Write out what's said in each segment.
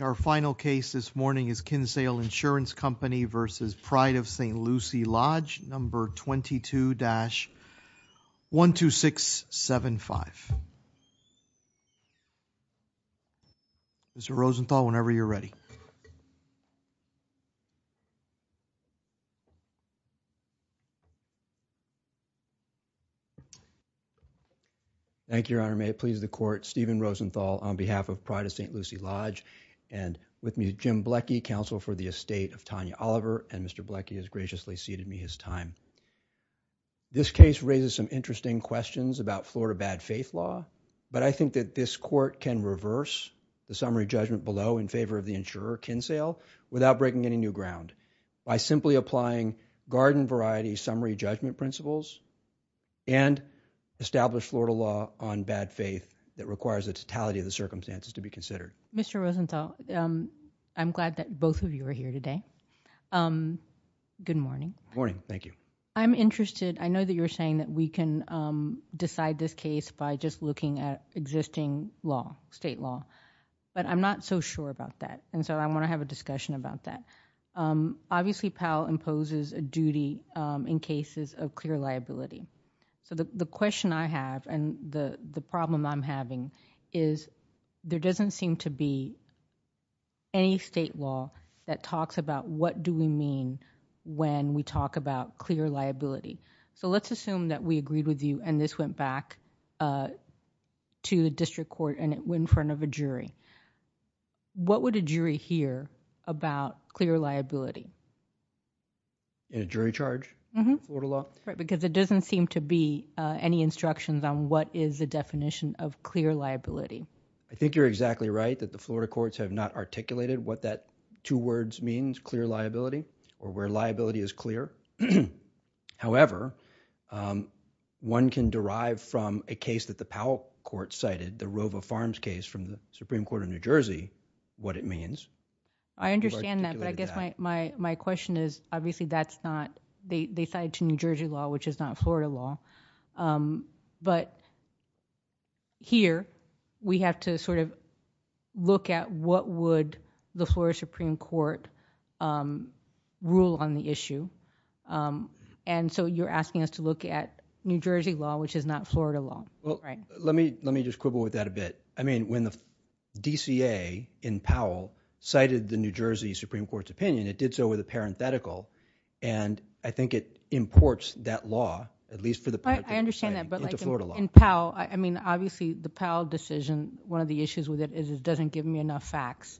Our final case this morning is Kinsale Insurance Company v. Pride of St. Lucie Lodge No. 22 dash 12675 Mr. Rosenthal whenever you're ready. Thank you Your Honor may it please the court Stephen Rosenthal on behalf of Pride of St. Lucie Lodge and with me Jim Blecky counsel for the estate of Tanya Oliver and Mr. Blecky has graciously ceded me his time. This case raises some interesting questions about Florida bad faith law but I think that this court can reverse the summary judgment below in favor of the insurer Kinsale without breaking any new ground by simply applying garden variety summary judgment principles and establish Florida law on bad faith that requires the totality of the circumstances to be considered. Mr. Rosenthal I'm glad that both of you are here today good morning morning thank you I'm interested I know that you're saying that we can decide this case by just looking at existing law state law but I'm not so sure about that and so I want to have a discussion about that obviously Powell imposes a duty in cases of clear liability so the question I have and the the problem I'm having is there doesn't seem to be any state law that talks about what do we mean when we talk about clear liability so let's assume that we agreed with you and this went back to the district court and it went in front of a jury what would a jury hear about clear liability in a jury charge Florida law right because it I think you're exactly right that the Florida courts have not articulated what that two words means clear liability or where liability is clear however one can derive from a case that the Powell court cited the Rova Farms case from the Supreme Court of New Jersey what it means I understand that but I guess my my my question is obviously that's not they they cited to New Jersey law which is not Florida law but here we have to sort of look at what would the Florida Supreme Court rule on the issue and so you're asking us to look at New Jersey law which is not Florida law well right let me let me just quibble with that a bit I mean when the DCA in Powell cited the New Jersey Supreme Court's opinion it did so with a parenthetical and I think it imports that law at least for the I understand that but like in Powell I mean obviously the Powell decision one of the issues with it is it doesn't give me enough facts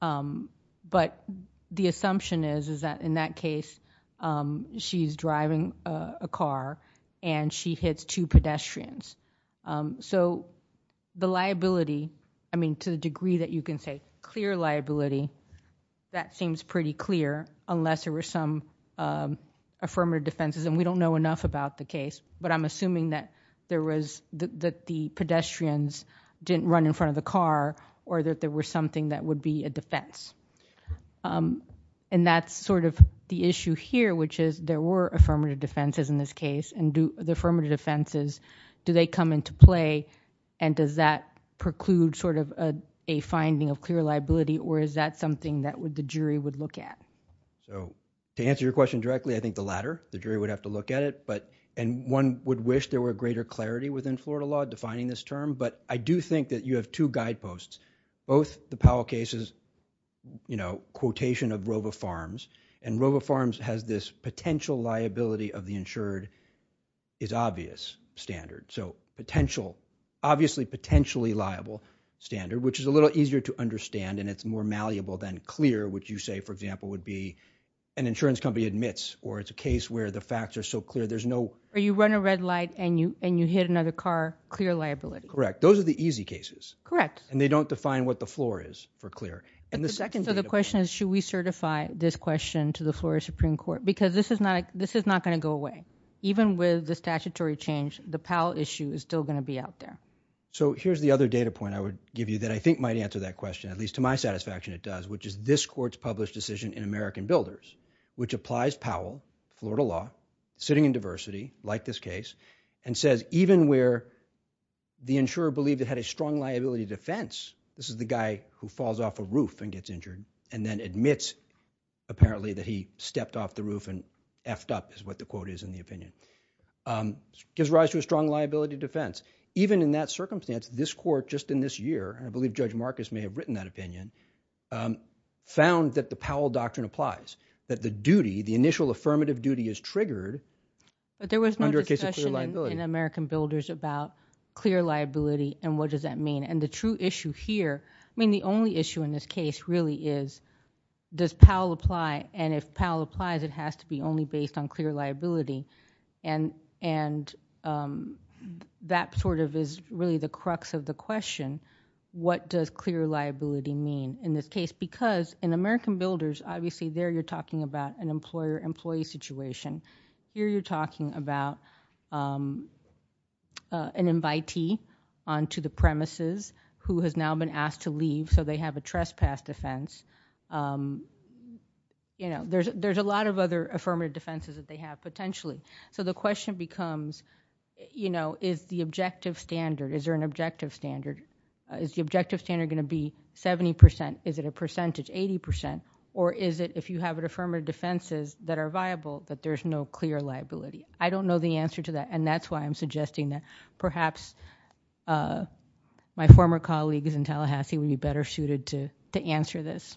but the assumption is is that in that case she's driving a car and she hits two pedestrians so the liability I mean to the degree that you can say clear liability that seems pretty clear unless there were some affirmative defenses and we don't know enough about the case but I'm assuming that there was that the pedestrians didn't run in front of the car or that there were something that would be a defense and that's sort of the issue here which is there were affirmative defenses in this case and do the affirmative defenses do they come into play and does that preclude sort of a finding of clear liability or is that something that would the jury would look at so to answer your question directly I think the latter the jury would have to look at it but and one would wish there were greater clarity within Florida law defining this term but I do think that you have two guideposts both the Powell cases you know quotation of Rova Farms and Rova Farms has this potential liability of the insured is obvious standard so potential obviously potentially liable standard which is a little easier to understand and it's more malleable than clear which you say for example would be an insurance company admits or it's a case where the facts are so clear there's no or you run a red light and you and you hit another car clear liability correct those are the easy cases correct and they don't define what the floor is for clear and the second so the question is should we certify this question to the Florida Supreme Court because this is not this is not going to go away even with the statutory change the Powell issue is still going to be out there so here's the other data point I would give you that I think might answer that question at least to my satisfaction it does which is this courts published decision in American Builders which applies Powell Florida law sitting in diversity like this case and says even where the insurer believed it had a strong liability defense this is the guy who falls off a roof and gets injured and then admits apparently that he stepped off the roof and effed up is what the quote is in the opinion gives rise to a strong liability defense even in that circumstance this court just in this year I believe Judge Marcus may have written that opinion found that the Powell doctrine applies that the duty the initial affirmative duty is triggered but there was no case in American Builders about clear liability and what does that mean and the true issue here I mean the only issue in this case really is does Powell apply and if Powell applies it has to be only based on clear liability and and that sort of is really the crux of the question what does clear liability mean in this case because in American Builders obviously there you're talking about an employer employee situation here you're talking about an invitee on to the premises who has now been asked to leave so they have a trespass defense you know there's there's a lot of other affirmative defenses that they have potentially so the question becomes you know is the objective standard is there an objective standard is the objective standard going to be 70% is it a percentage 80% or is it if you have an affirmative defenses that are viable that there's no clear liability I don't know the answer to that and that's why I'm suggesting that perhaps my former colleagues in Tallahassee would be better suited to to answer this.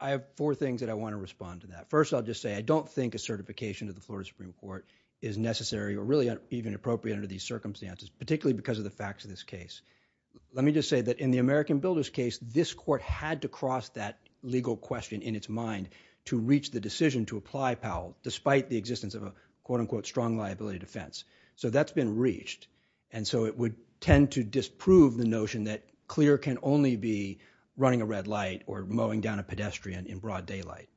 I have four things that I want to respond to that first I'll just say I don't think a certification of the Florida Supreme Court is necessary or really even appropriate under these circumstances particularly because of the facts of this case let me just say that in the American Builders case this court had to cross that legal question in its mind to reach the decision to apply Powell despite the existence of a quote-unquote strong liability defense so that's been reached and so it would tend to disprove the notion that clear can only be running a red light or mowing down a pedestrian in broad daylight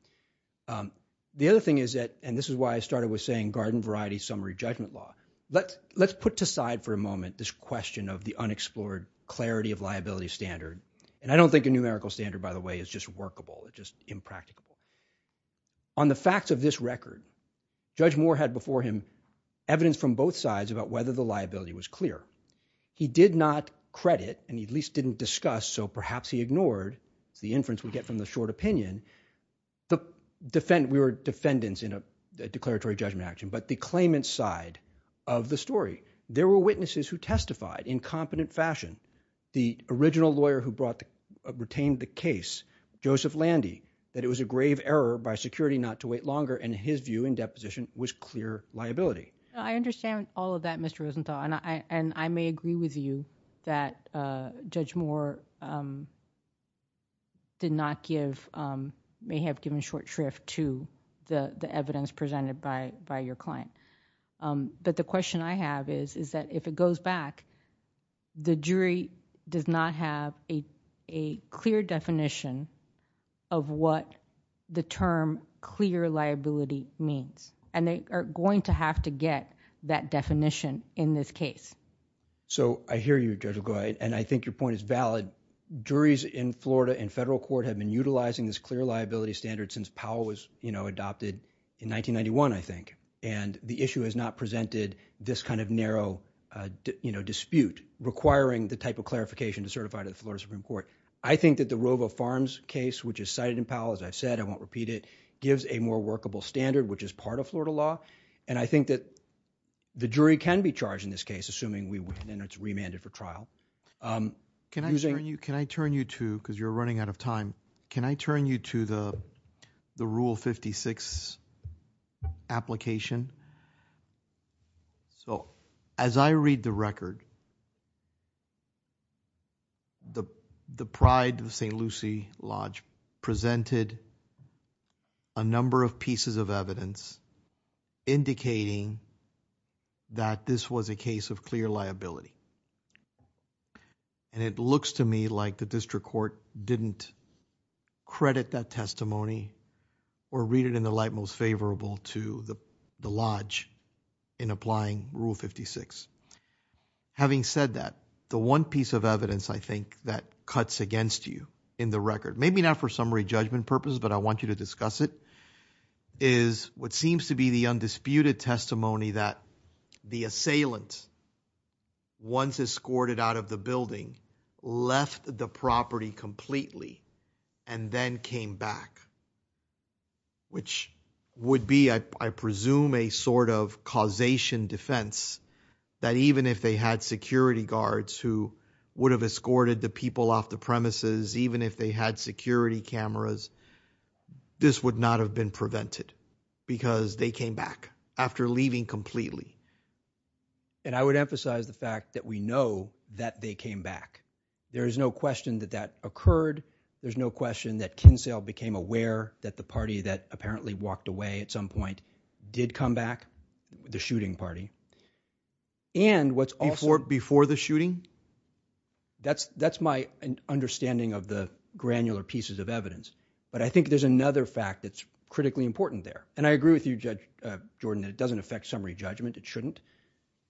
the other thing is that and this is why I started with saying garden variety summary judgment law let's let's put aside for a moment this question of the unexplored clarity of liability standard and I don't think a numerical standard by the way is just workable it's just impractical on the facts of this record Judge Moore had before him evidence from both sides about whether the liability was clear he did not credit and he at least didn't discuss so perhaps he ignored the inference we get from the short opinion the defend we were defendants in a declaratory judgment action but the claimant side of the story there were witnesses who testified in competent fashion the original lawyer who brought the retained the case Joseph Landy that it was a grave error by security not to wait longer and his view in deposition was clear liability I understand all of that Mr. Rosenthal and I and I may agree with you that Judge Moore did not give may have given short shrift to the the evidence presented by by your client but the the term clear liability means and they are going to have to get that definition in this case so I hear you Judge LaGuardia and I think your point is valid juries in Florida and federal court have been utilizing this clear liability standard since Powell was you know adopted in 1991 I think and the issue has not presented this kind of narrow uh you know dispute requiring the type of clarification to certify to the Florida Supreme Court I think that the robo farms case which is cited in Powell as I've said I won't repeat it gives a more workable standard which is part of Florida law and I think that the jury can be charged in this case assuming we win and it's remanded for trial um can I turn you can I turn you to because you're running out of time can I turn you to the the rule 56 application so as I read the record the the pride of the St. Lucie Lodge presented a number of pieces of evidence indicating that this was a case of clear liability and it looks to me like the district court didn't credit that testimony or read it in light most favorable to the lodge in applying rule 56 having said that the one piece of evidence I think that cuts against you in the record maybe not for summary judgment purposes but I want you to discuss it is what seems to be the undisputed testimony that the assailant once escorted out of the building left the property completely and then came back which would be I presume a sort of causation defense that even if they had security guards who would have escorted the people off the premises even if they had security cameras this would not have been prevented because they came back after leaving completely and I would emphasize the fact that we know that they came back there is no question that that occurred there's no question that Kinsale became aware that the party that apparently walked away at some point did come back the shooting party and what's also before the shooting that's that's my understanding of the granular pieces of evidence but I think there's another fact that's critically important there and I agree with you judge Jordan that it doesn't affect summary judgment it shouldn't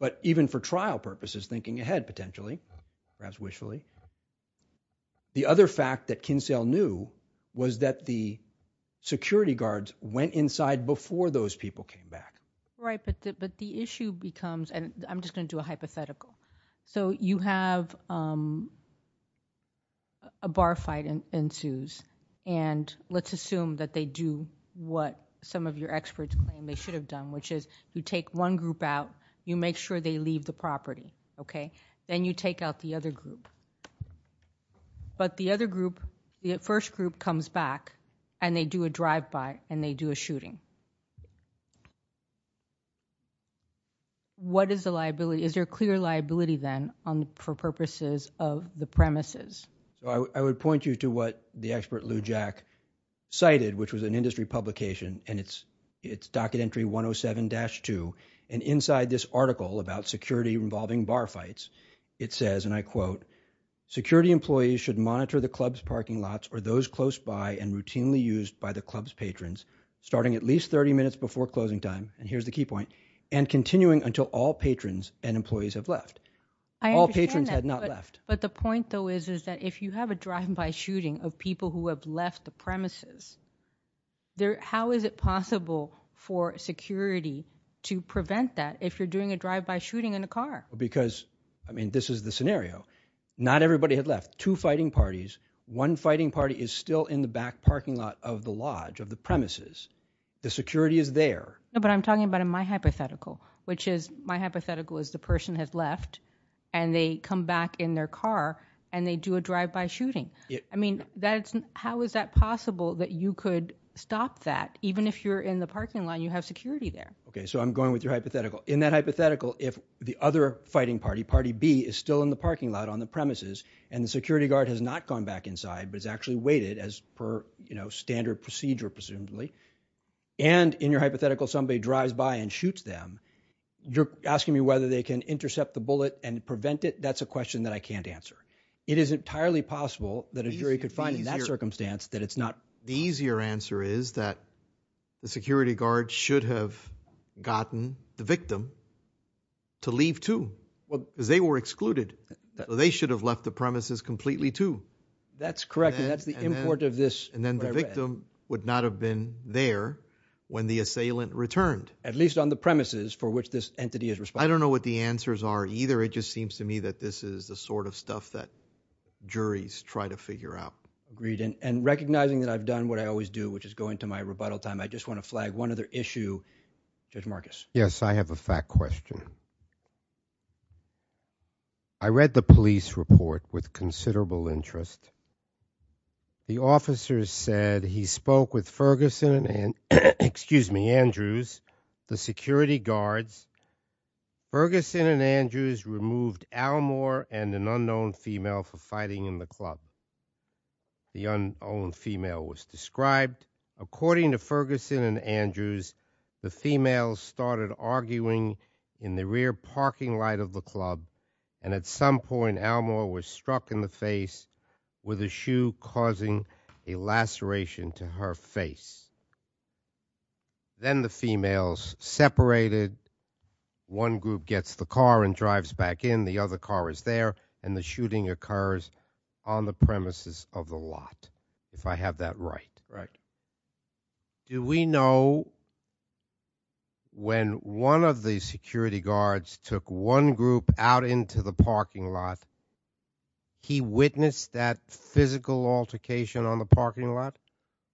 but even for trial purposes thinking ahead potentially perhaps wishfully the other fact that Kinsale knew was that the security guards went inside before those people came back right but but the issue becomes and I'm just going to do a hypothetical so you have um a bar fight ensues and let's assume that they do what some of your experts claim they should have done which is you take one group out you make sure they leave the property okay then you take out the other group but the other group the first group comes back and they do a drive-by and they do a of the premises I would point you to what the expert Lou Jack cited which was an industry publication and it's it's docket entry 107-2 and inside this article about security involving bar fights it says and I quote security employees should monitor the club's parking lots or those close by and routinely used by the club's patrons starting at least 30 minutes before closing time and here's the key point and continuing until all patrons and employees have left all patrons had but the point though is is that if you have a drive-by shooting of people who have left the premises there how is it possible for security to prevent that if you're doing a drive-by shooting in a car because I mean this is the scenario not everybody had left two fighting parties one fighting party is still in the back parking lot of the lodge of the premises the security is there but I'm talking about in my hypothetical which is my hypothetical is the in their car and they do a drive-by shooting I mean that's how is that possible that you could stop that even if you're in the parking lot you have security there okay so I'm going with your hypothetical in that hypothetical if the other fighting party party b is still in the parking lot on the premises and the security guard has not gone back inside but it's actually waited as per you know standard procedure presumably and in your hypothetical somebody drives by and shoots them you're asking me whether they can intercept the bullet and prevent it that's a question that I can't answer it is entirely possible that a jury could find in that circumstance that it's not the easier answer is that the security guard should have gotten the victim to leave too well because they were excluded they should have left the premises completely too that's correct and that's the import of this and then the victim would not have been there when the assailant returned at least on the premises for which this entity is responsible I don't know what the answers are either it just seems to me that this is the sort of stuff that juries try to figure out agreed and recognizing that I've done what I always do which is go into my rebuttal time I just want to flag one other issue Judge Marcus yes I have a fact question I read the police report with considerable interest the officers said he spoke with Ferguson and excuse me Andrews the security guards Ferguson and Andrews removed Al Moore and an unknown female for fighting in the club the unowned female was described according to Ferguson and Andrews the females started arguing in the rear with a shoe causing a laceration to her face then the females separated one group gets the car and drives back in the other car is there and the shooting occurs on the premises of the lot if I have that right right do we know when one of the security guards took one group out into the parking lot he witnessed that physical altercation on the parking lot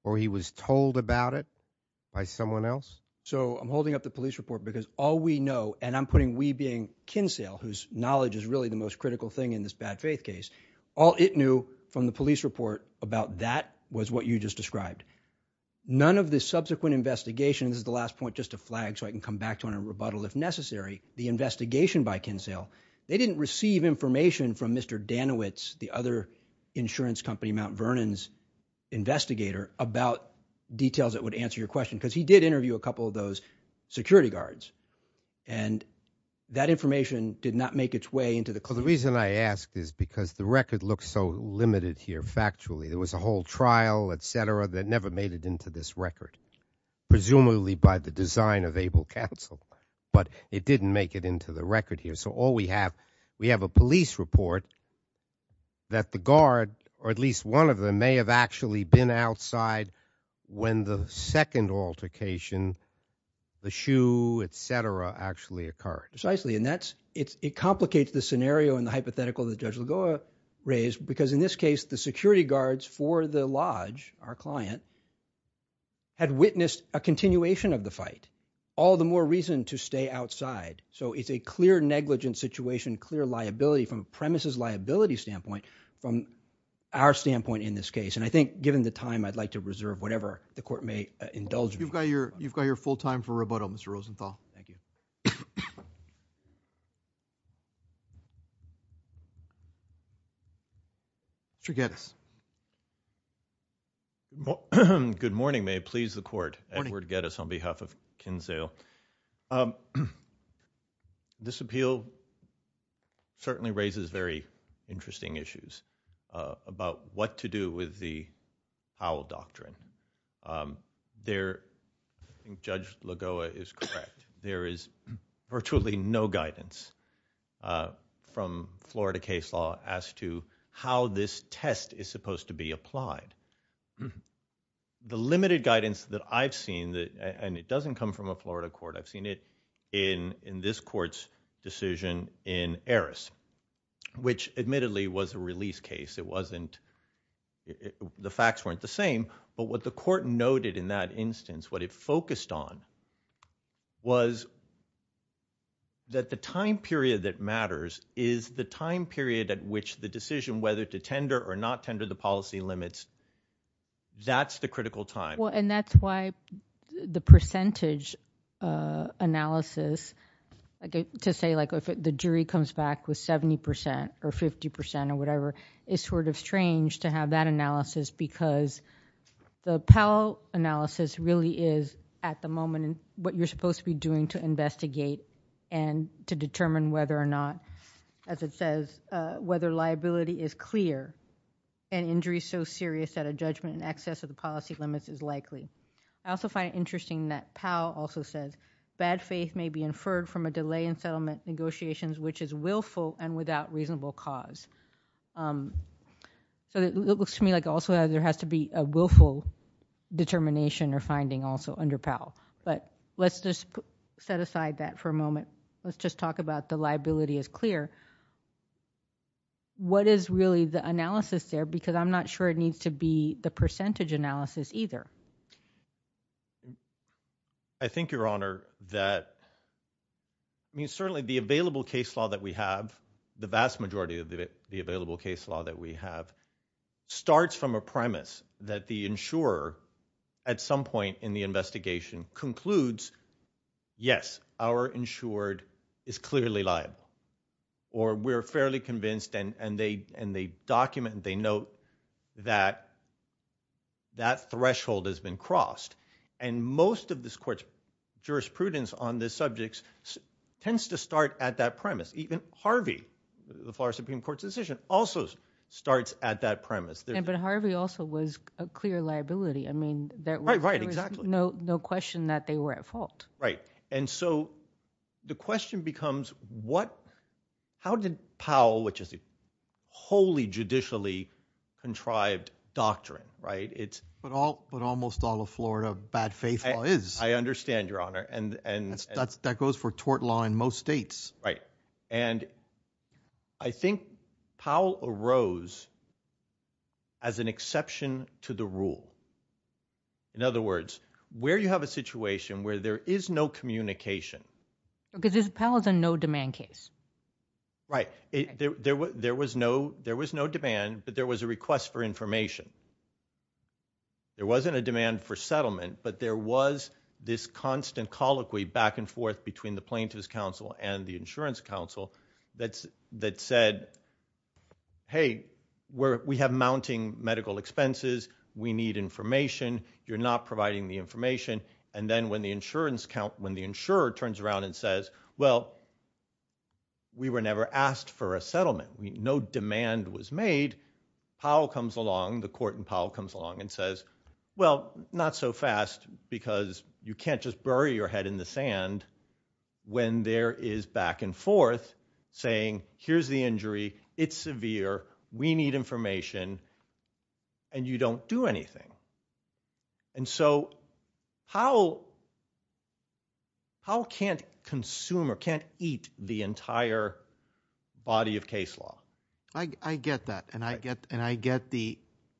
or he was told about it by someone else so I'm holding up the police report because all we know and I'm putting we being Kinsale whose knowledge is really the most critical thing in this bad faith case all it knew from the police report about that was what you just described none of the subsequent investigation this is the last point just to flag so I can come back to on a rebuttal if necessary the investigation by Kinsale they didn't receive information from Mr. Danowitz the other insurance company Mount Vernon's investigator about details that would answer your question because he did interview a couple of those security guards and that information did not make its way into the call the reason I asked is because the record looks so limited here factually there was a whole trial etc that never made it into this record presumably by the design of able counsel but it didn't make it into the record here so all we have we have a police report that the guard or at least one of them may have actually been outside when the second altercation the shoe etc actually occurred precisely and that's it's it complicates the scenario and the hypothetical that Judge Lagoa raised because in this case the security guards for the lodge our client had witnessed a continuation of the fight all the more reason to stay outside so it's a clear negligent situation clear liability from premises liability standpoint from our standpoint in this case and I think given the time I'd like to reserve whatever the court may indulge you've got your you've got your full time for rebuttal Mr. Rosenthal thank you Mr. Gettis good morning may it please the court Edward Gettis on behalf of Kinzale this appeal certainly raises very interesting issues about what to do with the owl doctrine um there Judge Lagoa is correct there is virtually no guidance uh from Florida case law as to how this test is supposed to be applied the limited guidance that I've seen that and it doesn't come from a Florida court I've seen it in in this court's decision in Eris which admittedly was a release case it wasn't it the facts weren't the same but what the court noted in that instance what it focused on was that the time period that matters is the time period at which the decision whether to tender or not tender the policy limits that's the critical time well and that's why the percentage uh analysis I get to say like if the jury comes back with 70 percent or 50 percent or whatever is sort of strange to have that analysis because the Powell analysis really is at the moment what you're supposed to be doing to investigate and to determine whether or not as it says uh whether liability is clear and injury so serious that a judgment in excess of the policy limits is likely I also find it interesting that Powell also says bad faith may be inferred from a delay in settlement negotiations which is willful and without reasonable cause um so it looks to me like also there has to be a willful determination or finding also under Powell but let's just set aside that for a moment let's just talk about the liability is clear what is really the analysis there because I'm not sure it needs to be the percentage analysis either I think your honor that I mean certainly the available case law that we have the vast majority of the available case law that we have starts from a premise that the insurer at some point in the investigation concludes yes our insured is clearly liable or we're fairly convinced and and they and they document and they note that that threshold has been crossed and most of this court's jurisprudence on this subjects tends to start at that premise even Harvey the Florida Supreme Court's decision also starts at that premise there but Harvey also was a clear liability I mean that right right exactly no no question that they were at fault right and so the question becomes what how did Powell which is a wholly judicially contrived doctrine right it's but all but almost all of Florida bad faith is I understand your honor and and that's that goes for tort law in most states right and I think Powell arose as an exception to the rule in other words where you have a situation where there is no communication because there's paladin no demand case right there was no there was no demand but there was a request for information there wasn't a demand for settlement but there was this constant colloquy back and forth between the insurance council that's that said hey we're we have mounting medical expenses we need information you're not providing the information and then when the insurance count when the insurer turns around and says well we were never asked for a settlement no demand was made Powell comes along the court and Powell comes along and says well not so fast because you can't just bury your head in the sand when there is back and forth saying here's the injury it's severe we need information and you don't do anything and so how how can't consumer can't eat the entire body of case law I I get that and I get and I get the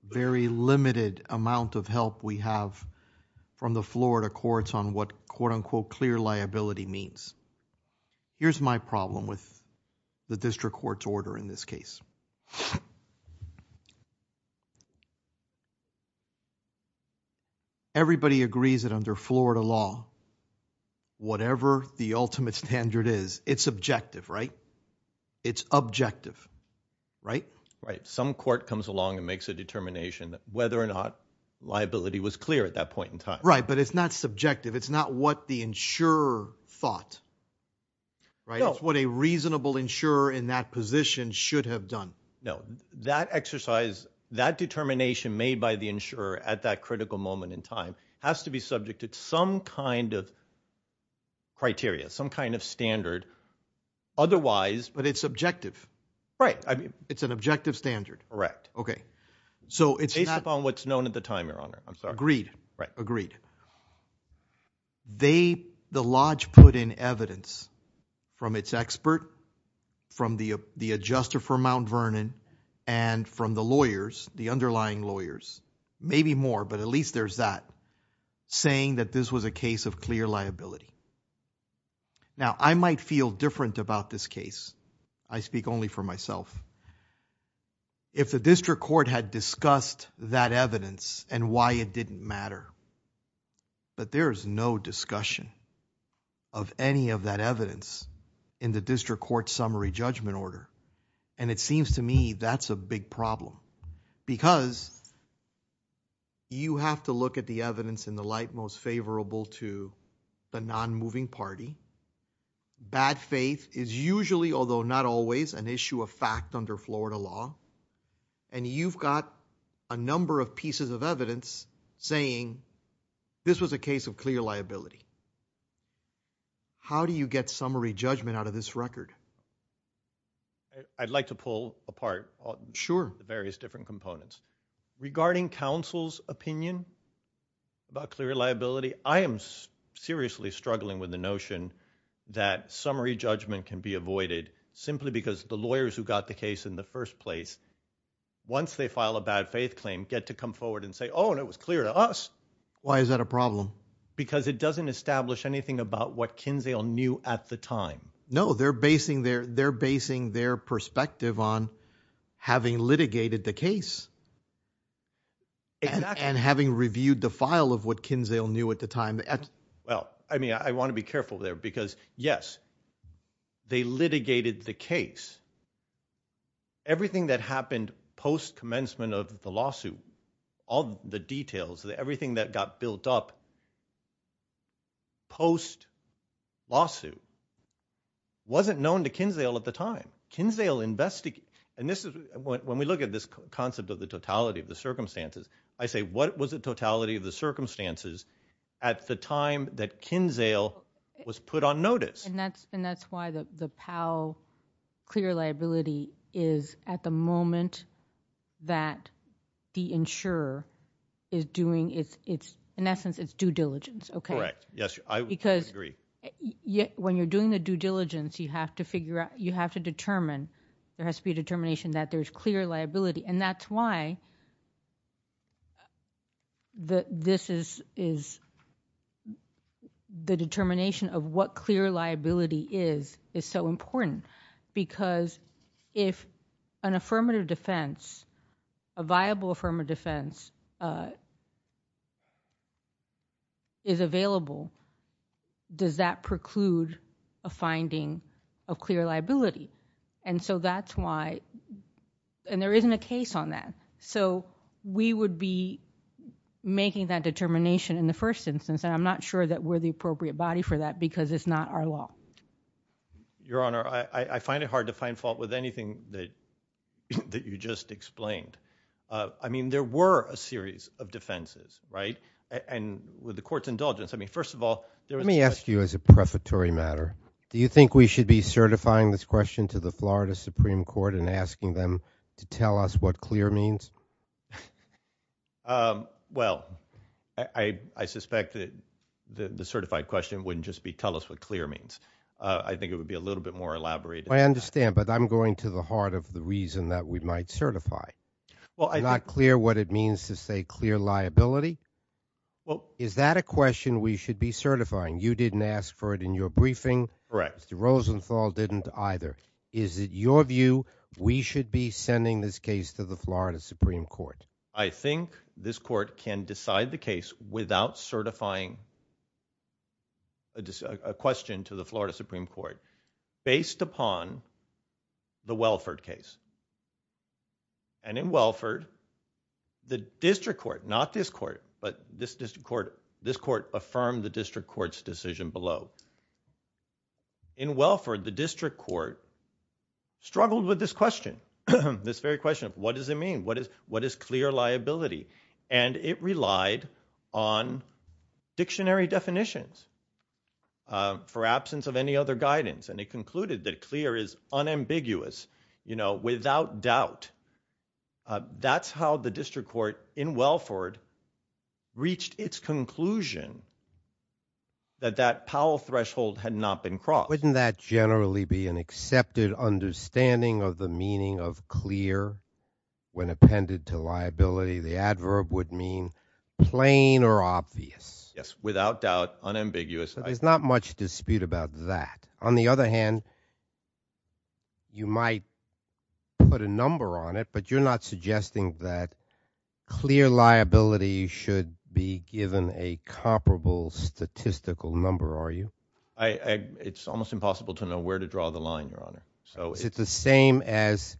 very limited amount of help we have from the Florida courts on what quote-unquote clear liability means here's my problem with the district court's order in this case everybody agrees that under Florida law whatever the ultimate standard is it's objective right it's objective right right some court comes along and makes a determination that whether or not liability was clear at that point in time right but it's not subjective it's not what the insurer thought right it's what a reasonable insurer in that position should have done no that exercise that determination made by the insurer at that critical moment in time has to be subject to some kind of criteria some kind of standard otherwise but it's objective right I mean it's an objective standard correct okay so it's based upon what's known at the time your honor I'm sorry agreed right agreed they the lodge put in evidence from its expert from the the adjuster for Mount Vernon and from the lawyers the underlying lawyers maybe more but at least there's that saying that this was a case of clear liability now I might feel different about this case I speak only for myself if the district court had discussed that evidence and why it didn't matter but there is no discussion of any of that evidence in the district court summary judgment order and it seems to me that's a big problem because you have to look at the evidence in the light to the non-moving party bad faith is usually although not always an issue of fact under Florida law and you've got a number of pieces of evidence saying this was a case of clear liability how do you get summary judgment out of this record I'd like to pull apart sure the various different components regarding counsel's opinion about clear liability I am seriously struggling with the notion that summary judgment can be avoided simply because the lawyers who got the case in the first place once they file a bad faith claim get to come forward and say oh and it was clear to us why is that a problem because it doesn't establish anything about what Kinzale knew at the time no they're basing their they're basing their perspective on having litigated the case and having reviewed the file of what Kinzale knew at the time well I mean I want to be careful there because yes they litigated the case everything that happened post commencement of the lawsuit all the details that everything that got built up post lawsuit wasn't known to Kinzale at the time Kinzale investigate and this is when we look at this concept of the totality of the circumstances I say what was the totality of the circumstances at the time that Kinzale was put on notice and that's and that's why the the powell clear liability is at the moment that the insurer is doing it's it's in essence it's due diligence okay right yes I would agree because yet when you're doing the due diligence you have to figure out you have to determine there has to be a determination that there's clear liability and that's why that this is is the determination of what clear liability is is so important because if an affirmative defense a viable affirmative defense is available does that preclude a finding of clear liability and so that's why and there isn't a case on that so we would be making that determination in the first instance and I'm not sure that we're the appropriate body for that because it's not our law your honor I I find it hard to find fault with anything that that you just explained uh I mean there were a series of defenses right and with the court's indulgence I mean first of all let me ask you as a prefatory matter do you think we should be certifying this question to the Florida Supreme Court and asking them to tell us what clear means um well I I suspect that the certified question wouldn't just be tell us what clear means I think it would be a little bit more elaborated I understand but I'm going to the heart of the reason that we might certify well I'm not clear what it means to say clear liability well is that a question we should be certifying you didn't ask for it in your briefing correct Mr. Rosenthal didn't either is it your view we should be sending this case to the Florida Supreme Court I think this court can decide the case without certifying a question to the Florida Supreme Court based upon the Welford case and in Welford the district court not this court but this district court this court affirmed the court struggled with this question this very question what does it mean what is what is clear liability and it relied on dictionary definitions uh for absence of any other guidance and it concluded that clear is unambiguous you know without doubt that's how the district court in Welford reached its conclusion that that Powell threshold had not been crossed wouldn't that generally be an accepted understanding of the meaning of clear when appended to liability the adverb would mean plain or obvious yes without doubt unambiguous there's not much dispute about that on the other hand you might put a number on it but you're not suggesting that liability should be given a comparable statistical number are you I it's almost impossible to know where to draw the line your honor so it's the same as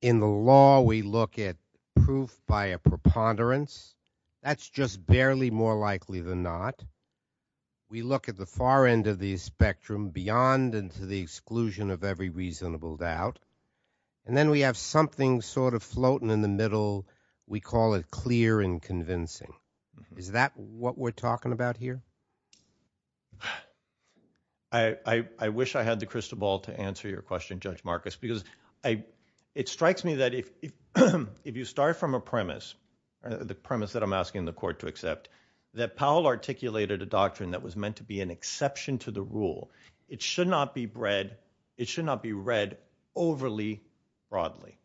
in the law we look at proof by a preponderance that's just barely more likely than not we look at the far end of the spectrum beyond and to the exclusion of every reasonable doubt and then we have something sort of floating in the middle we call it clear and convincing is that what we're talking about here I I wish I had the crystal ball to answer your question Judge Marcus because I it strikes me that if if you start from a premise the premise that I'm asking the court to accept that Powell articulated a doctrine that was meant to be an exception to the rule it should not be bred it should not be read overly broadly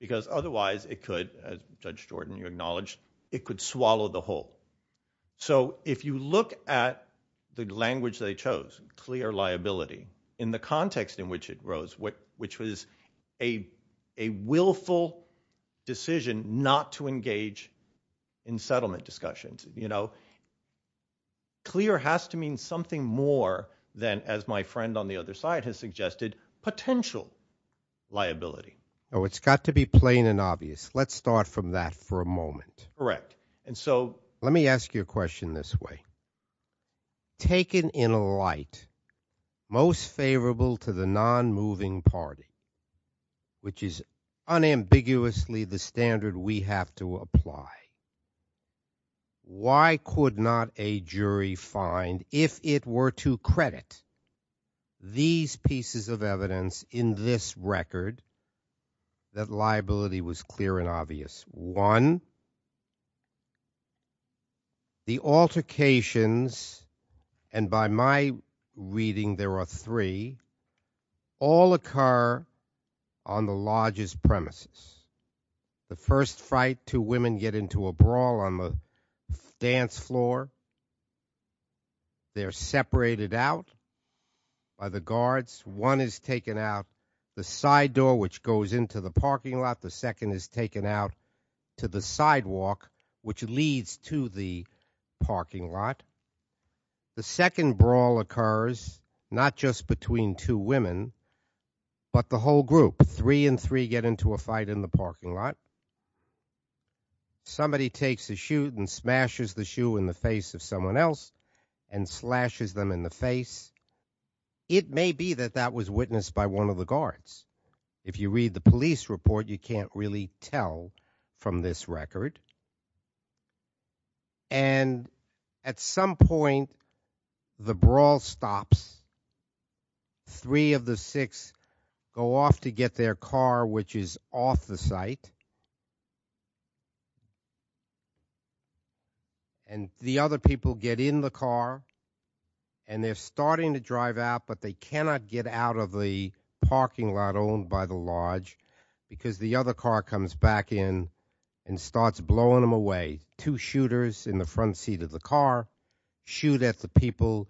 because otherwise it could as Judge Jordan you acknowledged it could swallow the whole so if you look at the language they chose clear liability in the context in which it rose what which was a a willful decision not to engage in settlement discussions you know clear has to mean something more than as my friend on the other side has suggested potential liability oh it's got to be plain and obvious let's start from that for a moment correct and so let me ask you a question this way taken in a light most favorable to the why could not a jury find if it were to credit these pieces of evidence in this record that liability was clear and obvious one the altercations and by my reading there are three all occur on the largest premises the first fight two women get into a brawl on the dance floor they're separated out by the guards one is taken out the side door which goes into the parking lot the second is taken out to the sidewalk which leads to the parking lot the second brawl occurs not just between two women but the whole group three and three get into a fight in the parking lot somebody takes a shoot and smashes the shoe in the face of someone else and slashes them in the face it may be that that was witnessed by one of the guards if you read the police report you can't really tell from this record and at some point the brawl stops three of the six go off to get their car which is off the site and the other people get in the car and they're starting to comes back in and starts blowing them away two shooters in the front seat of the car shoot at the people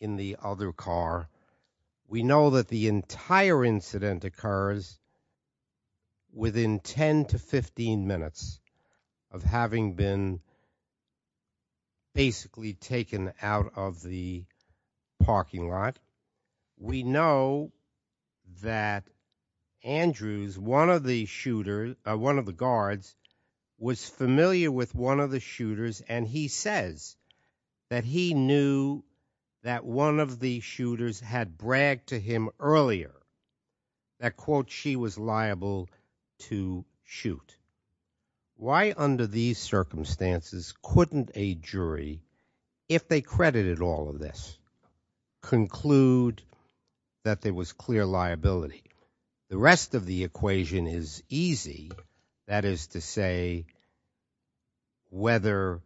in the other car we know that the entire incident occurs within 10 to 15 minutes of having been basically taken out of the parking lot we know that andrews one of the shooters one of the guards was familiar with one of the shooters and he says that he knew that one of the shooters had bragged to him earlier that quote she was liable to shoot why under these circumstances couldn't a jury if they credited all of this conclude that there was clear liability the rest of the equation is easy that is to say whether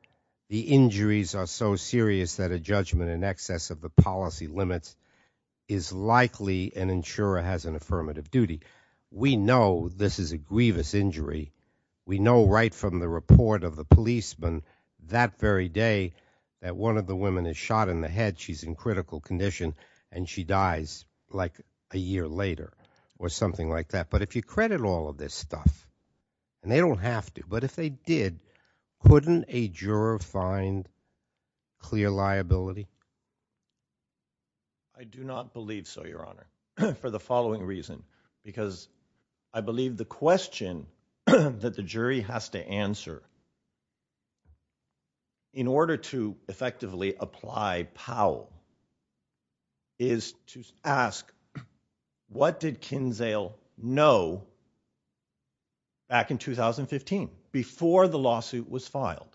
the injuries are so serious that a judgment in excess of the policy limits is likely an insurer has an affirmative duty we know this is a grievous injury we know right from the report of the policeman that very day that one of the women is shot in the head she's in condition and she dies like a year later or something like that but if you credit all of this stuff and they don't have to but if they did wouldn't a juror find clear liability i do not believe so your honor for the following reason because i believe the question that the is to ask what did kinzale know back in 2015 before the lawsuit was filed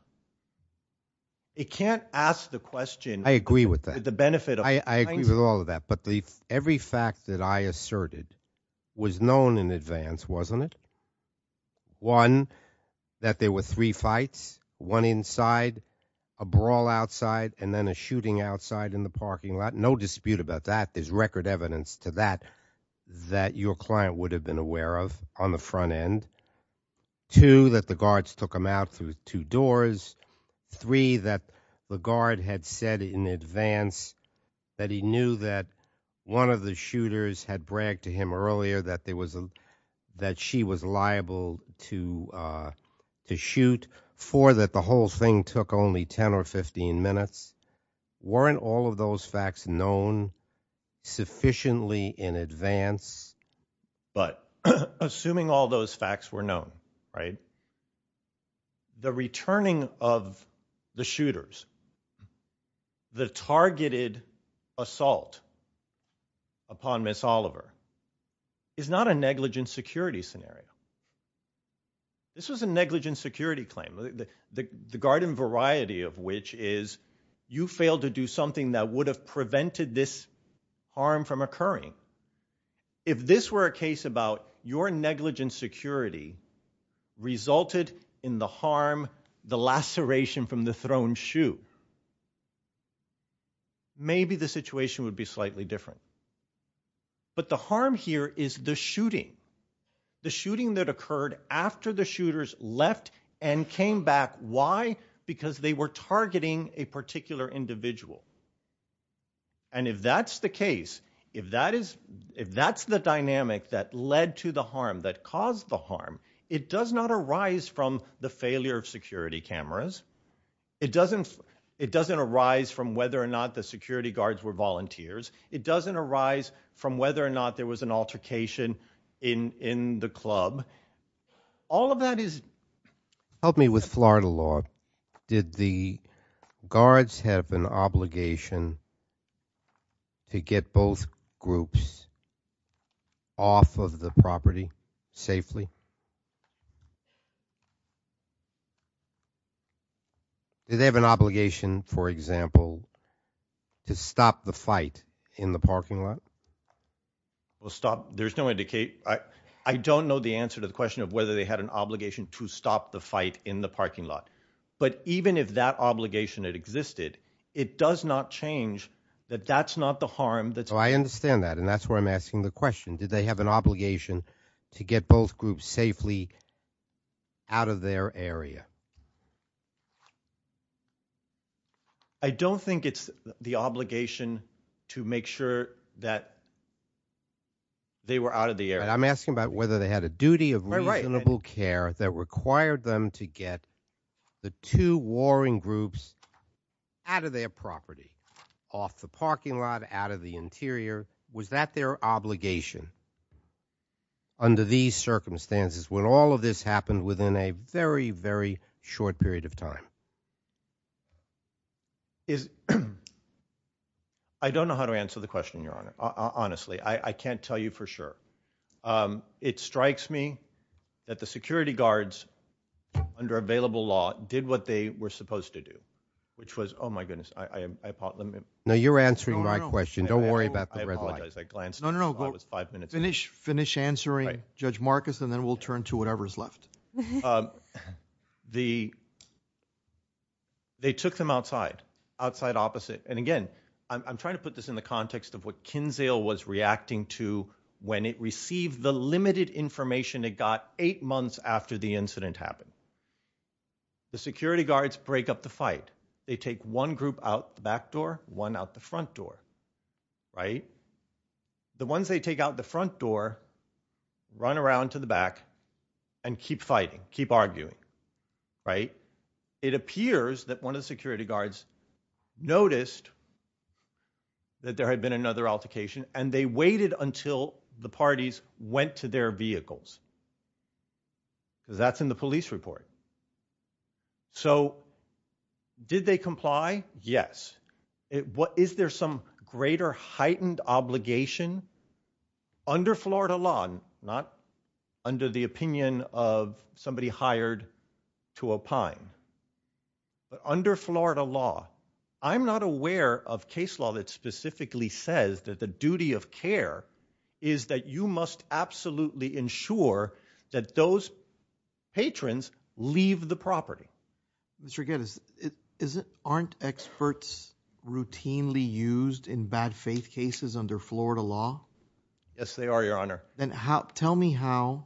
it can't ask the question i agree with that the benefit i agree with all of that but the every fact that i asserted was known in advance wasn't it one that there were three fights one inside a brawl outside and then a shooting outside in the parking lot no dispute about that there's record evidence to that that your client would have been aware of on the front end two that the guards took them out through two doors three that the guard had said in advance that he knew that one of the shooters had bragged to him earlier that there was a that she was liable to to shoot for that the whole thing took only 10 or 15 minutes weren't all of those facts known sufficiently in advance but assuming all those facts were known right the returning of the shooters the targeted assault upon miss oliver is not a negligent security scenario was a negligent security claim the the garden variety of which is you failed to do something that would have prevented this harm from occurring if this were a case about your negligent security resulted in the harm the laceration from the thrown shoe maybe the situation would be slightly different but the harm here is the shooting the shooting that occurred after the shooters left and came back why because they were targeting a particular individual and if that's the case if that is if that's the dynamic that led to the harm that caused the harm it does not arise from the failure of security cameras it doesn't it doesn't arise from whether or not the security guards were volunteers it doesn't arise from whether or not there was an altercation in in the club all of that is help me with florida law did the guards have an obligation to get both groups off of the property safely do they have an obligation for example to stop the fight in the parking lot well stop there's no indicate i i don't know the answer to the question of whether they had an obligation to stop the fight in the parking lot but even if that obligation had existed it does not change that that's not the harm that so i understand that and that's why i'm asking the question did they have an obligation to get both groups safely out of their area i don't think it's the obligation to make sure that they were out of the area i'm asking about whether they had a duty of reasonable care that required them to get the two warring groups out of their property off the parking lot out of the interior was that their obligation under these circumstances when all of this happened within a very very short period of time is i don't know how to answer the question your honor honestly i i can't tell you for sure um it strikes me that the security guards under available law did what they were supposed to do which was oh my goodness i i thought let me know you're answering my question don't worry about the red line i glanced no no no it's five minutes finish finish answering judge marcus and then we'll turn to whatever's left um the they took them outside outside opposite and again i'm trying to put this in the context of what kinzale was reacting to when it received the limited information it got eight months after the incident happened the security guards break up the fight they take one group out the back door one out the front door right the ones they take out the front door run around to the back and keep fighting keep arguing right it appears that one of the security guards noticed that there had been another altercation and they waited until the parties went to their vehicles that's in the police report so did they comply yes what is there some greater heightened obligation under florida law not under the opinion of somebody hired to opine but under florida law i'm not aware of case law that specifically says that the duty of care is that you must absolutely ensure that those patrons leave the property mr gettis it isn't aren't experts routinely used in bad faith cases under florida law yes they are your honor then how tell me how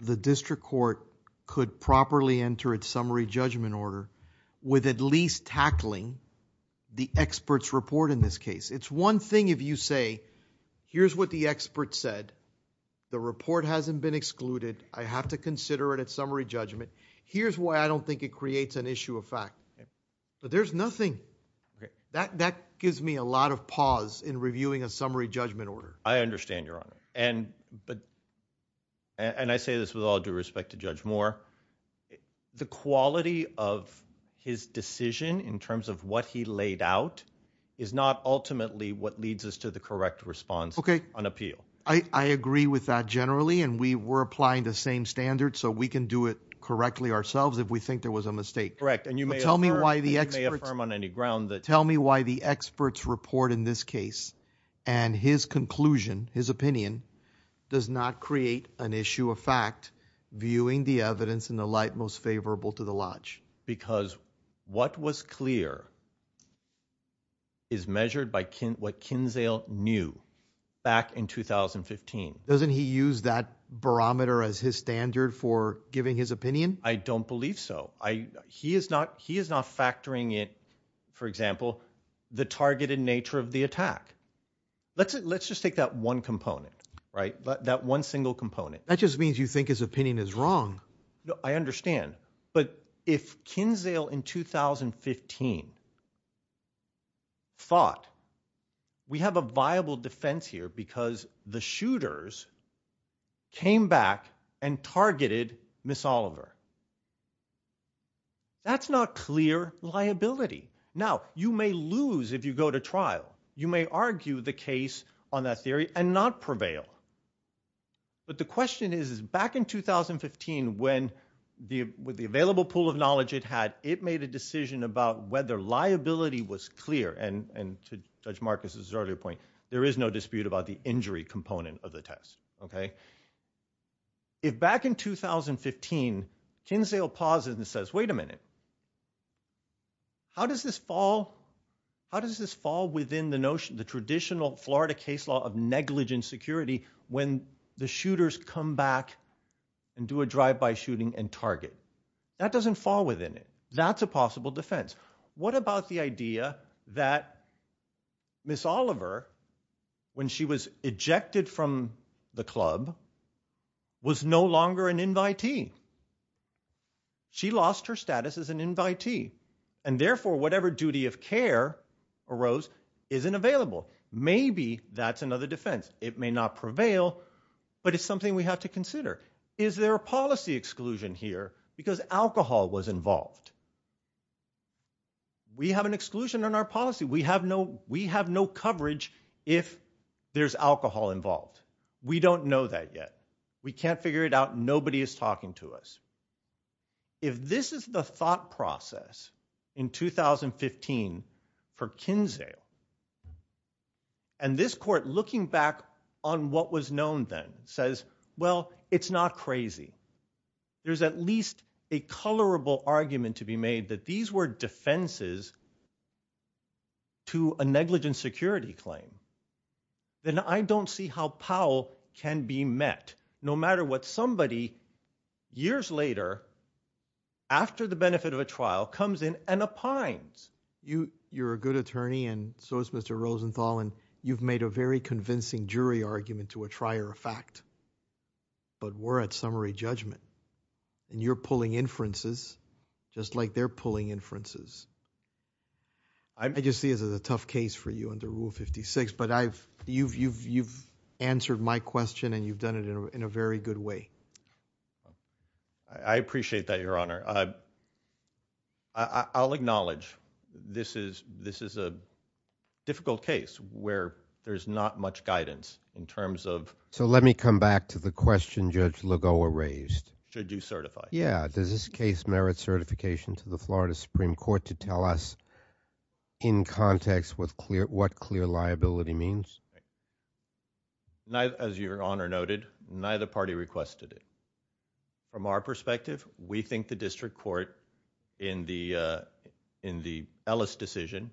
the district court could properly enter its summary judgment order with at least tackling the experts report in this case it's one thing if you say here's what the expert said the report hasn't been excluded i have to consider it at summary judgment here's why i don't think it creates an issue of fact but there's nothing that that gives me a lot of pause in reviewing a summary judgment order i understand your honor and but and i say this with all due respect to judge moore the quality of his decision in terms of what he laid out is not ultimately what leads us to the correct response okay on appeal i i agree with that generally and we were applying the same standard so we can do it correctly ourselves if we think there was a mistake correct and you may tell me why the experts may affirm on any ground that tell me why the experts report in this case and his conclusion his opinion does not create an issue of fact viewing the evidence in the light most favorable to the lodge because what was clear is measured by kin what kinzale knew back in 2015 doesn't he use that barometer as his standard for giving his opinion i don't believe so i he is not he is not factoring it for example the targeted nature of the attack let's let's just take that one component right that one single component that just means you think his opinion is wrong i understand but if kinzale in 2015 thought we have a viable defense here because the shooters came back and targeted miss oliver that's not clear liability now you may lose if you go to but the question is is back in 2015 when the with the available pool of knowledge it had it made a decision about whether liability was clear and and to judge marcus's earlier point there is no dispute about the injury component of the test okay if back in 2015 kinzale pauses and says wait a minute how does this fall how does this fall within the notion the traditional florida case law of negligent security when the shooters come back and do a drive-by shooting and target that doesn't fall within it that's a possible defense what about the idea that miss oliver when she was ejected from the club was no longer an invitee she lost her status as an invitee and therefore whatever duty of care arose isn't available maybe that's another defense it may not prevail but it's something we have to consider is there a policy exclusion here because alcohol was involved we have an exclusion on our policy we have no we have no coverage if there's alcohol involved we don't know that yet we can't figure it out nobody is talking to us if this is the thought process in 2015 for kinzale and this court looking back on what was known then says well it's not crazy there's at least a colorable argument to be made that these were defenses to a negligent security claim then i don't see how powell can be met no matter what somebody years later after the benefit of a trial comes in and opines you you're a good attorney and so is mr rosenthal and you've made a very convincing jury argument to a trier effect but we're at summary judgment and you're pulling inferences just like they're pulling inferences i just see as a tough case for you under rule 56 but i've you've you've you've answered my question and you've done it in a very good way i appreciate that your honor i i'll acknowledge this is this is a difficult case where there's not much guidance in terms of so let me come back to the question judge lagoa raised should you certify yeah does this case merit certification to the florida supreme court to tell us in context with clear what clear liability means neither as your honor noted neither party requested it from our perspective we think the district court in the uh in the ellis decision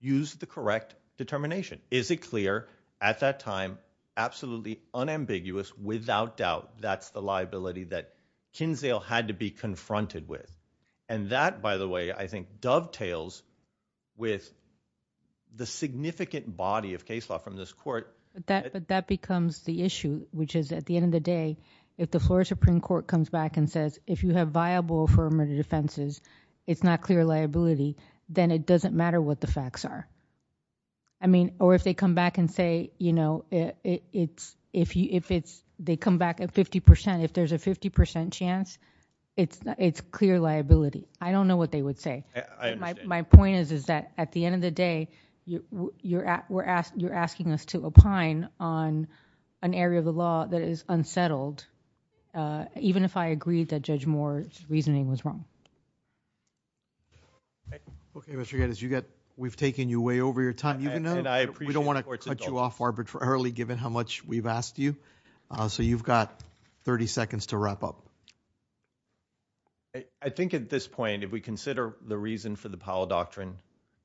used the correct determination is it clear at that time absolutely unambiguous without doubt that's the liability that kinsdale had to be confronted with and that by the way i think dovetails with the significant body of case law from this court that but that becomes the issue which is at the end of the day if the floor supreme court comes back and says if you have viable affirmative defenses it's not clear liability then it doesn't matter what the facts are i mean or if they come back and say you know it's if you if they come back at 50 percent if there's a 50 chance it's it's clear liability i don't know what they would say my point is is that at the end of the day you you're at we're asked you're asking us to opine on an area of the law that is unsettled uh even if i agreed that judge moore's reasoning was wrong okay what you got is you got we've taken you way over your time you know and i so you've got 30 seconds to wrap up i think at this point if we consider the reason for the powell doctrine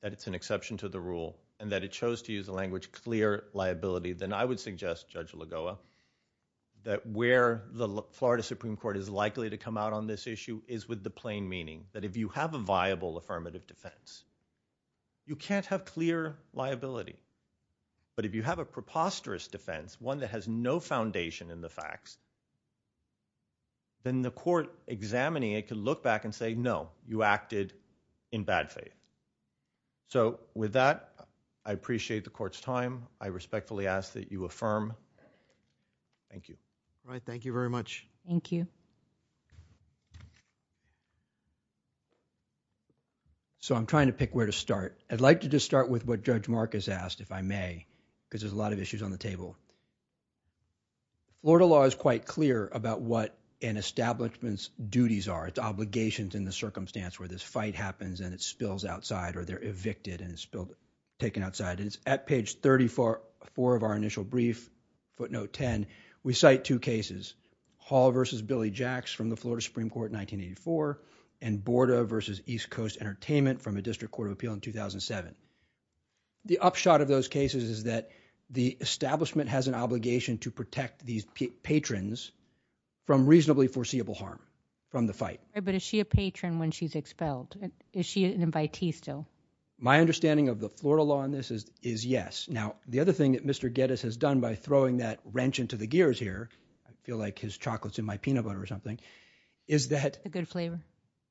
that it's an exception to the rule and that it chose to use the language clear liability then i would suggest judge lagoa that where the florida supreme court is likely to come out on this issue is with the plain meaning that if you have a viable affirmative defense you can't have clear liability but if you have a preposterous defense one that has no foundation in the facts then the court examining it could look back and say no you acted in bad faith so with that i appreciate the court's time i respectfully ask that you affirm thank you all right thank you very much thank you so i'm trying to pick where to start i'd like to just start with what judge marcus asked if i may because there's a lot of issues on the table lord of law is quite clear about what an establishment's duties are it's obligations in the circumstance where this fight happens and it spills outside or they're evicted and it's still taken outside it's at page 34 of our initial brief footnote 10 we cite two cases hall versus billy jacks from the florida supreme court 1984 and borda versus east coast entertainment from a district court of appeal in 2007 the upshot of those cases is that the establishment has an obligation to protect these patrons from reasonably foreseeable harm from the fight but is she a patron when she's expelled is she an invitee still my understanding of the florida law on this is is yes now the other thing that mr gettis has done by throwing that wrench into the gears here i feel like his chocolate's in my peanut butter or something is that a good flavor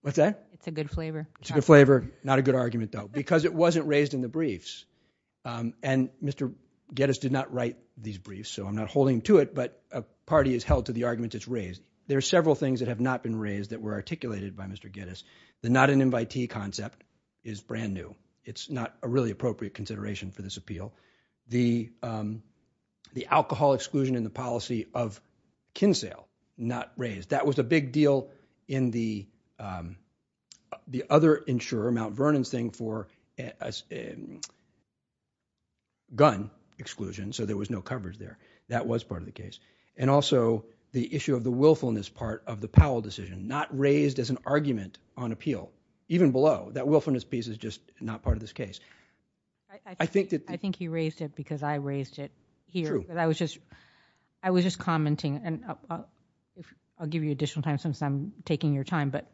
what's that it's a good flavor it's a good flavor not a good argument though because it wasn't raised in the briefs um and mr gettis did not write these briefs so i'm not holding to it but a party is held to the arguments it's raised there are several things that have not been raised that were articulated by mr gettis the not an invitee concept is brand new it's not a really appropriate consideration for this appeal the um the alcohol exclusion in the policy of kinsale not raised that was a big deal in the um the other insurer mount vernon's thing for a gun exclusion so there was no coverage there that was part of the case and also the issue of the willfulness part of the powell decision not raised as an argument on appeal even below that willfulness piece is just not part of this case i think that i think he raised it because i raised it here but i was just i was just commenting and i'll give you additional time since i'm taking your time but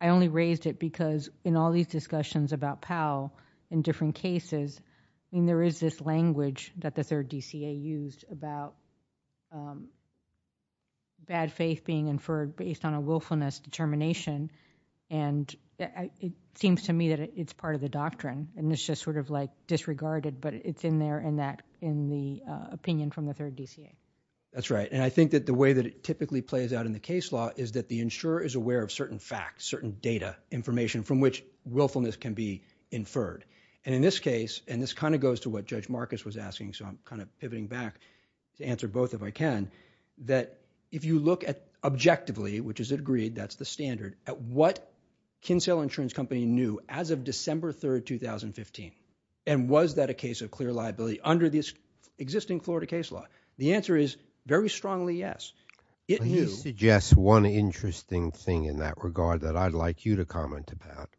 i only raised it because in all these discussions about powell in different cases i mean there is this language that the third dca used about um bad faith being inferred based on a willfulness determination and it seems to me that it's part of the doctrine and it's just sort of like disregarded but it's in there in that in the uh opinion from the third dca that's right and i think that the way that it typically plays out in the case law is that the insurer is aware of certain facts certain data information from which willfulness can be inferred and in this case and this kind of goes to what judge marcus was asking so i'm kind of pivoting back to answer both if i can that if you look at objectively which is agreed that's the standard at what kinsale insurance company knew as of december 3rd 2015 and was that a case of clear liability under this existing florida case law the answer is very strongly yes it you suggest one interesting thing in that regard that i'd like you to comment about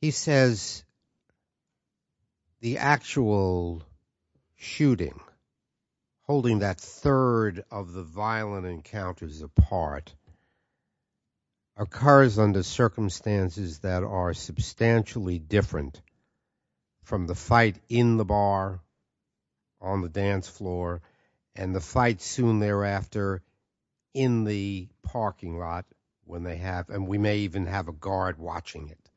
he says the actual shooting holding that third of the violent encounters apart occurs under circumstances that are substantially different from the fight in the have a guard watching it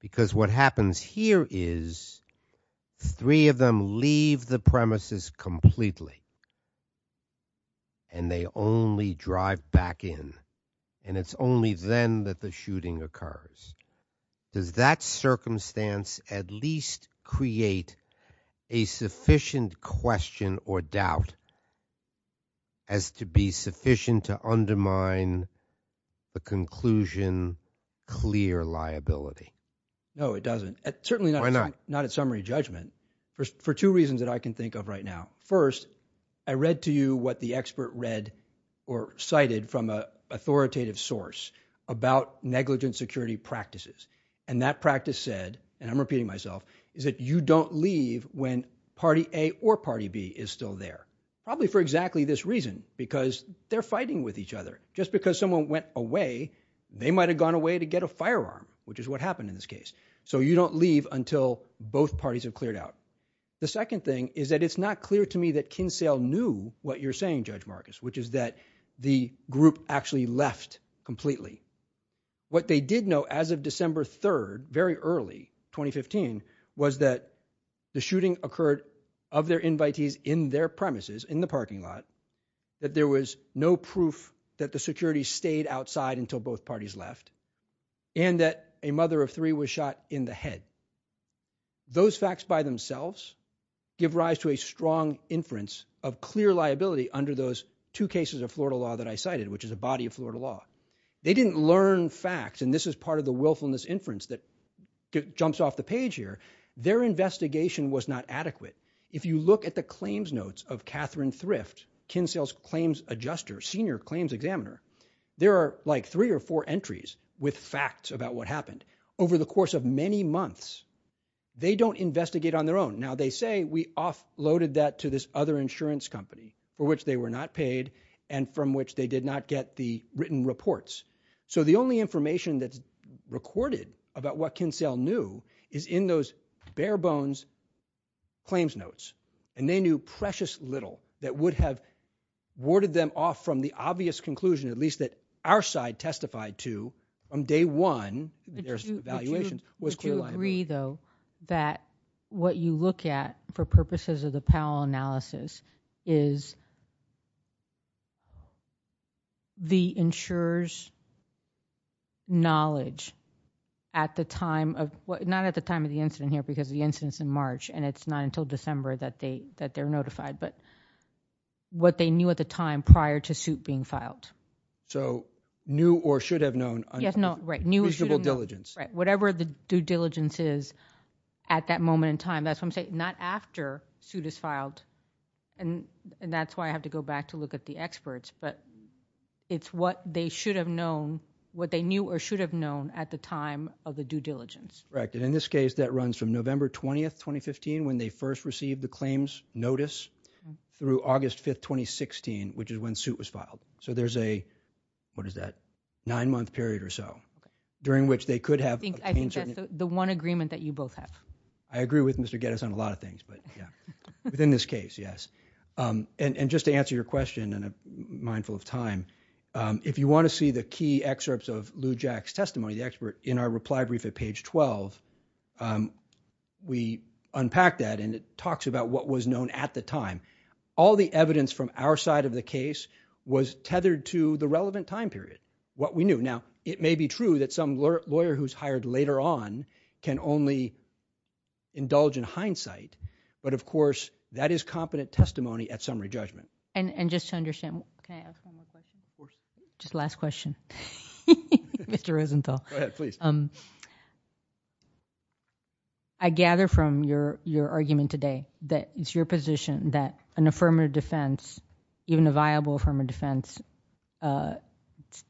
because what happens here is three of them leave the premises completely and they only drive back in and it's only then that the shooting occurs does that circumstance at least create a sufficient question or doubt as to be sufficient to undermine the conclusion clear liability no it doesn't certainly not not at summary judgment for two reasons that i can think of right now first i read to you what the expert read or cited from a authoritative source about negligent security practices and that practice said and i'm repeating myself is that you don't leave when party a or party b is still there probably for exactly this reason because they're fighting with each other just because someone went away they might have gone away to get a firearm which is what happened in this case so you don't leave until both parties have cleared out the second thing is that it's not clear to me that kinsale knew what you're saying judge marcus which is that the group actually left completely what they did know as of december 3rd very early 2015 was that the shooting occurred of their invitees in their premises in the parking lot that there was no proof that the security stayed outside until both parties left and that a mother of three was shot in the head those facts by themselves give rise to a strong inference of clear liability under those two cases of florida law that i cited which is a body of florida law they didn't learn facts and this is part of the willfulness inference that jumps off the page here their investigation was not adequate if you look at the claims notes of katherine thrift kinsale's claims adjuster senior claims examiner there are like three or four entries with facts about what happened over the course of many months they don't investigate on their own now they say we off loaded that to this other insurance company for which they were not paid and from which they did not get the written reports so the only information that's recorded about what kinsale knew is in those bare bones claims notes and they knew precious little that would have warded them off from the obvious conclusion at least that our side testified to from day one their evaluation was clear agree though that what you look at for knowledge at the time of what not at the time of the incident here because the incident's in march and it's not until december that they that they're notified but what they knew at the time prior to suit being filed so new or should have known yes no right new visible diligence right whatever the due diligence is at that moment in time that's what i'm saying not after suit is filed and and that's why i have to go back to look at the experts but it's what they should have known what they knew or should have known at the time of the due diligence correct and in this case that runs from november 20th 2015 when they first received the claims notice through august 5th 2016 which is when suit was filed so there's a what is that nine month period or so during which they could have i think that's the one agreement that you both have i agree with mr get us on a lot of things but yeah within this case yes um and and just to answer your question and a mindful of um if you want to see the key excerpts of lou jack's testimony the expert in our reply brief at page 12 um we unpack that and it talks about what was known at the time all the evidence from our side of the case was tethered to the relevant time period what we knew now it may be true that some lawyer who's hired later on can only indulge in hindsight but of course that is competent testimony at summary judgment and and just to understand can i ask one more question just last question mr rosenthal please um i gather from your your argument today that it's your position that an affirmative defense even a viable affirmative defense uh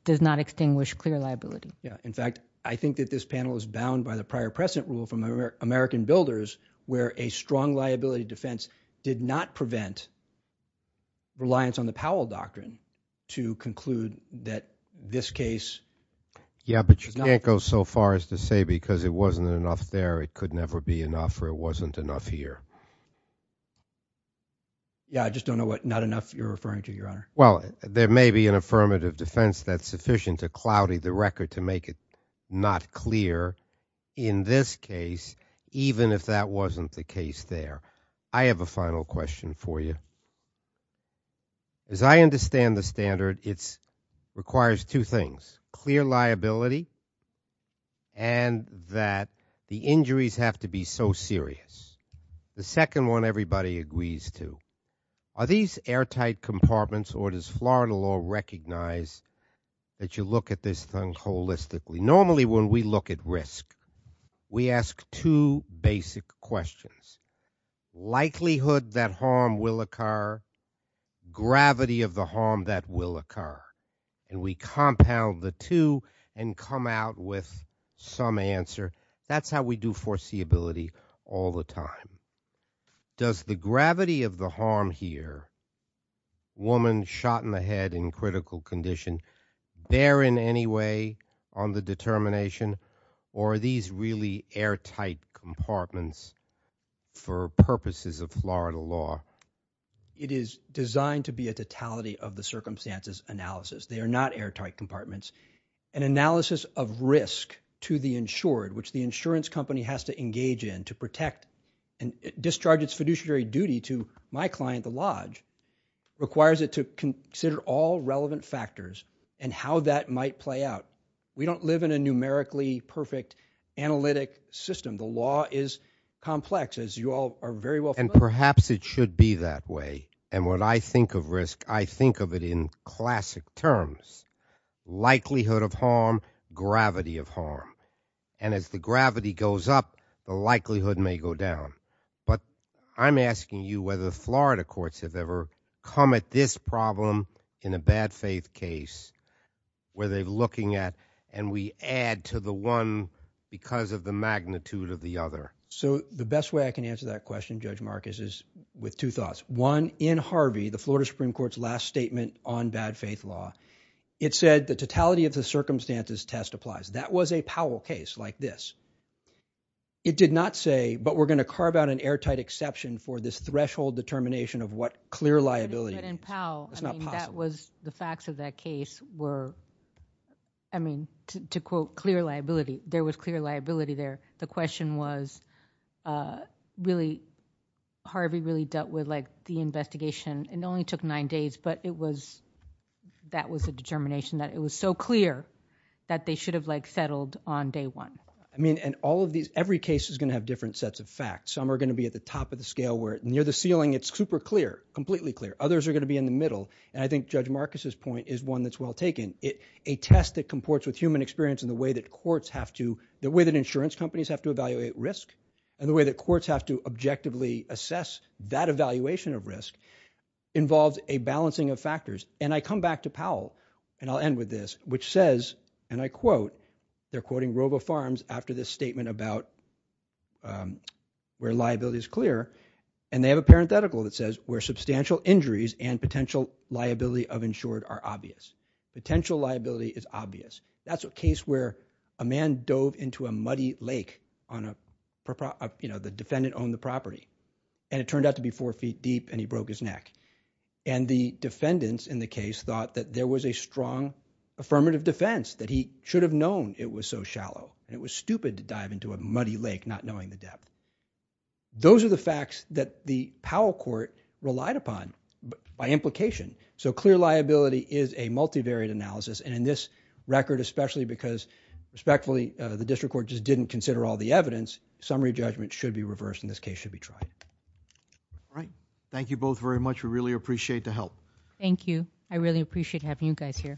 does not extinguish clear liability yeah in fact i think that this panel is bound by the prior precedent rule from american builders where a strong defense did not prevent reliance on the powell doctrine to conclude that this case yeah but you can't go so far as to say because it wasn't enough there it could never be enough or it wasn't enough here yeah i just don't know what not enough you're referring to your honor well there may be an affirmative defense that's sufficient to cloudy the record to make it not clear in this case even if that wasn't the case there i have a final question for you as i understand the standard it's requires two things clear liability and that the injuries have to be so serious the second one everybody agrees to are these airtight compartments or does florida law recognize that you look at this thing holistically normally when we look at risk we ask two basic questions likelihood that harm will occur gravity of the harm that will occur and we compound the two and come out with some answer that's how we do foreseeability all the time does the gravity of the harm here woman shot in the head in critical condition there in any way on the determination or are these really airtight compartments for purposes of florida law it is designed to be a totality of the circumstances analysis they are not airtight compartments an analysis of risk to the insured which the insurance company has to engage in to protect and discharge its fiduciary duty to my client the lodge requires it to consider all relevant factors and how that might play out we don't live in a numerically perfect analytic system the law is complex as you all are very well and perhaps it should be that way and when i think of risk i think of it in classic terms likelihood of harm gravity of harm and as the gravity goes up the likelihood may go down but i'm asking you whether florida courts have ever come at this problem in a bad faith case where they're looking at and we add to the one because of the magnitude of the other so the best way i can answer that question judge marcus is with two thoughts one in harvey the florida supreme court's last statement on bad faith law it said the totality of the circumstances test applies that was a powell case like this it did not say but we're going to carve out an airtight exception for this threshold determination of what clear liability but in powell that was the facts of that case were i mean to quote clear liability there was clear liability there the question was uh really harvey really dealt with like the investigation it only took nine days but it was that was a determination that it was so clear that they should have like settled on day one i mean and all of these every case is going to have different sets of facts some are going to be at the top of the scale where near the ceiling it's super clear completely clear others are going to be in the middle and i think judge marcus's point is one that's well taken it a test that comports with human experience in the way that courts have to the way that insurance companies have to evaluate risk and the way that courts have to objectively assess that evaluation of risk involves a balancing of factors and i come back to powell and i'll end with this which says and i quote they're quoting robo farms after this statement about um where liability is clear and they have a parenthetical that says where substantial injuries and potential liability of insured are obvious potential liability is obvious that's a case where a man dove into a muddy lake on a you know the defendant owned the property and it turned out to be four feet deep and he broke his neck and the defendants in the case thought that there was a strong affirmative defense that he should have known it was so shallow and it was stupid to dive into a muddy lake not knowing the depth those are the facts that the powell court relied upon by implication so clear liability is a multivariate analysis and in this especially because respectfully the district court just didn't consider all the evidence summary judgment should be reversed in this case should be tried all right thank you both very much we really appreciate the help thank you i really appreciate having you guys here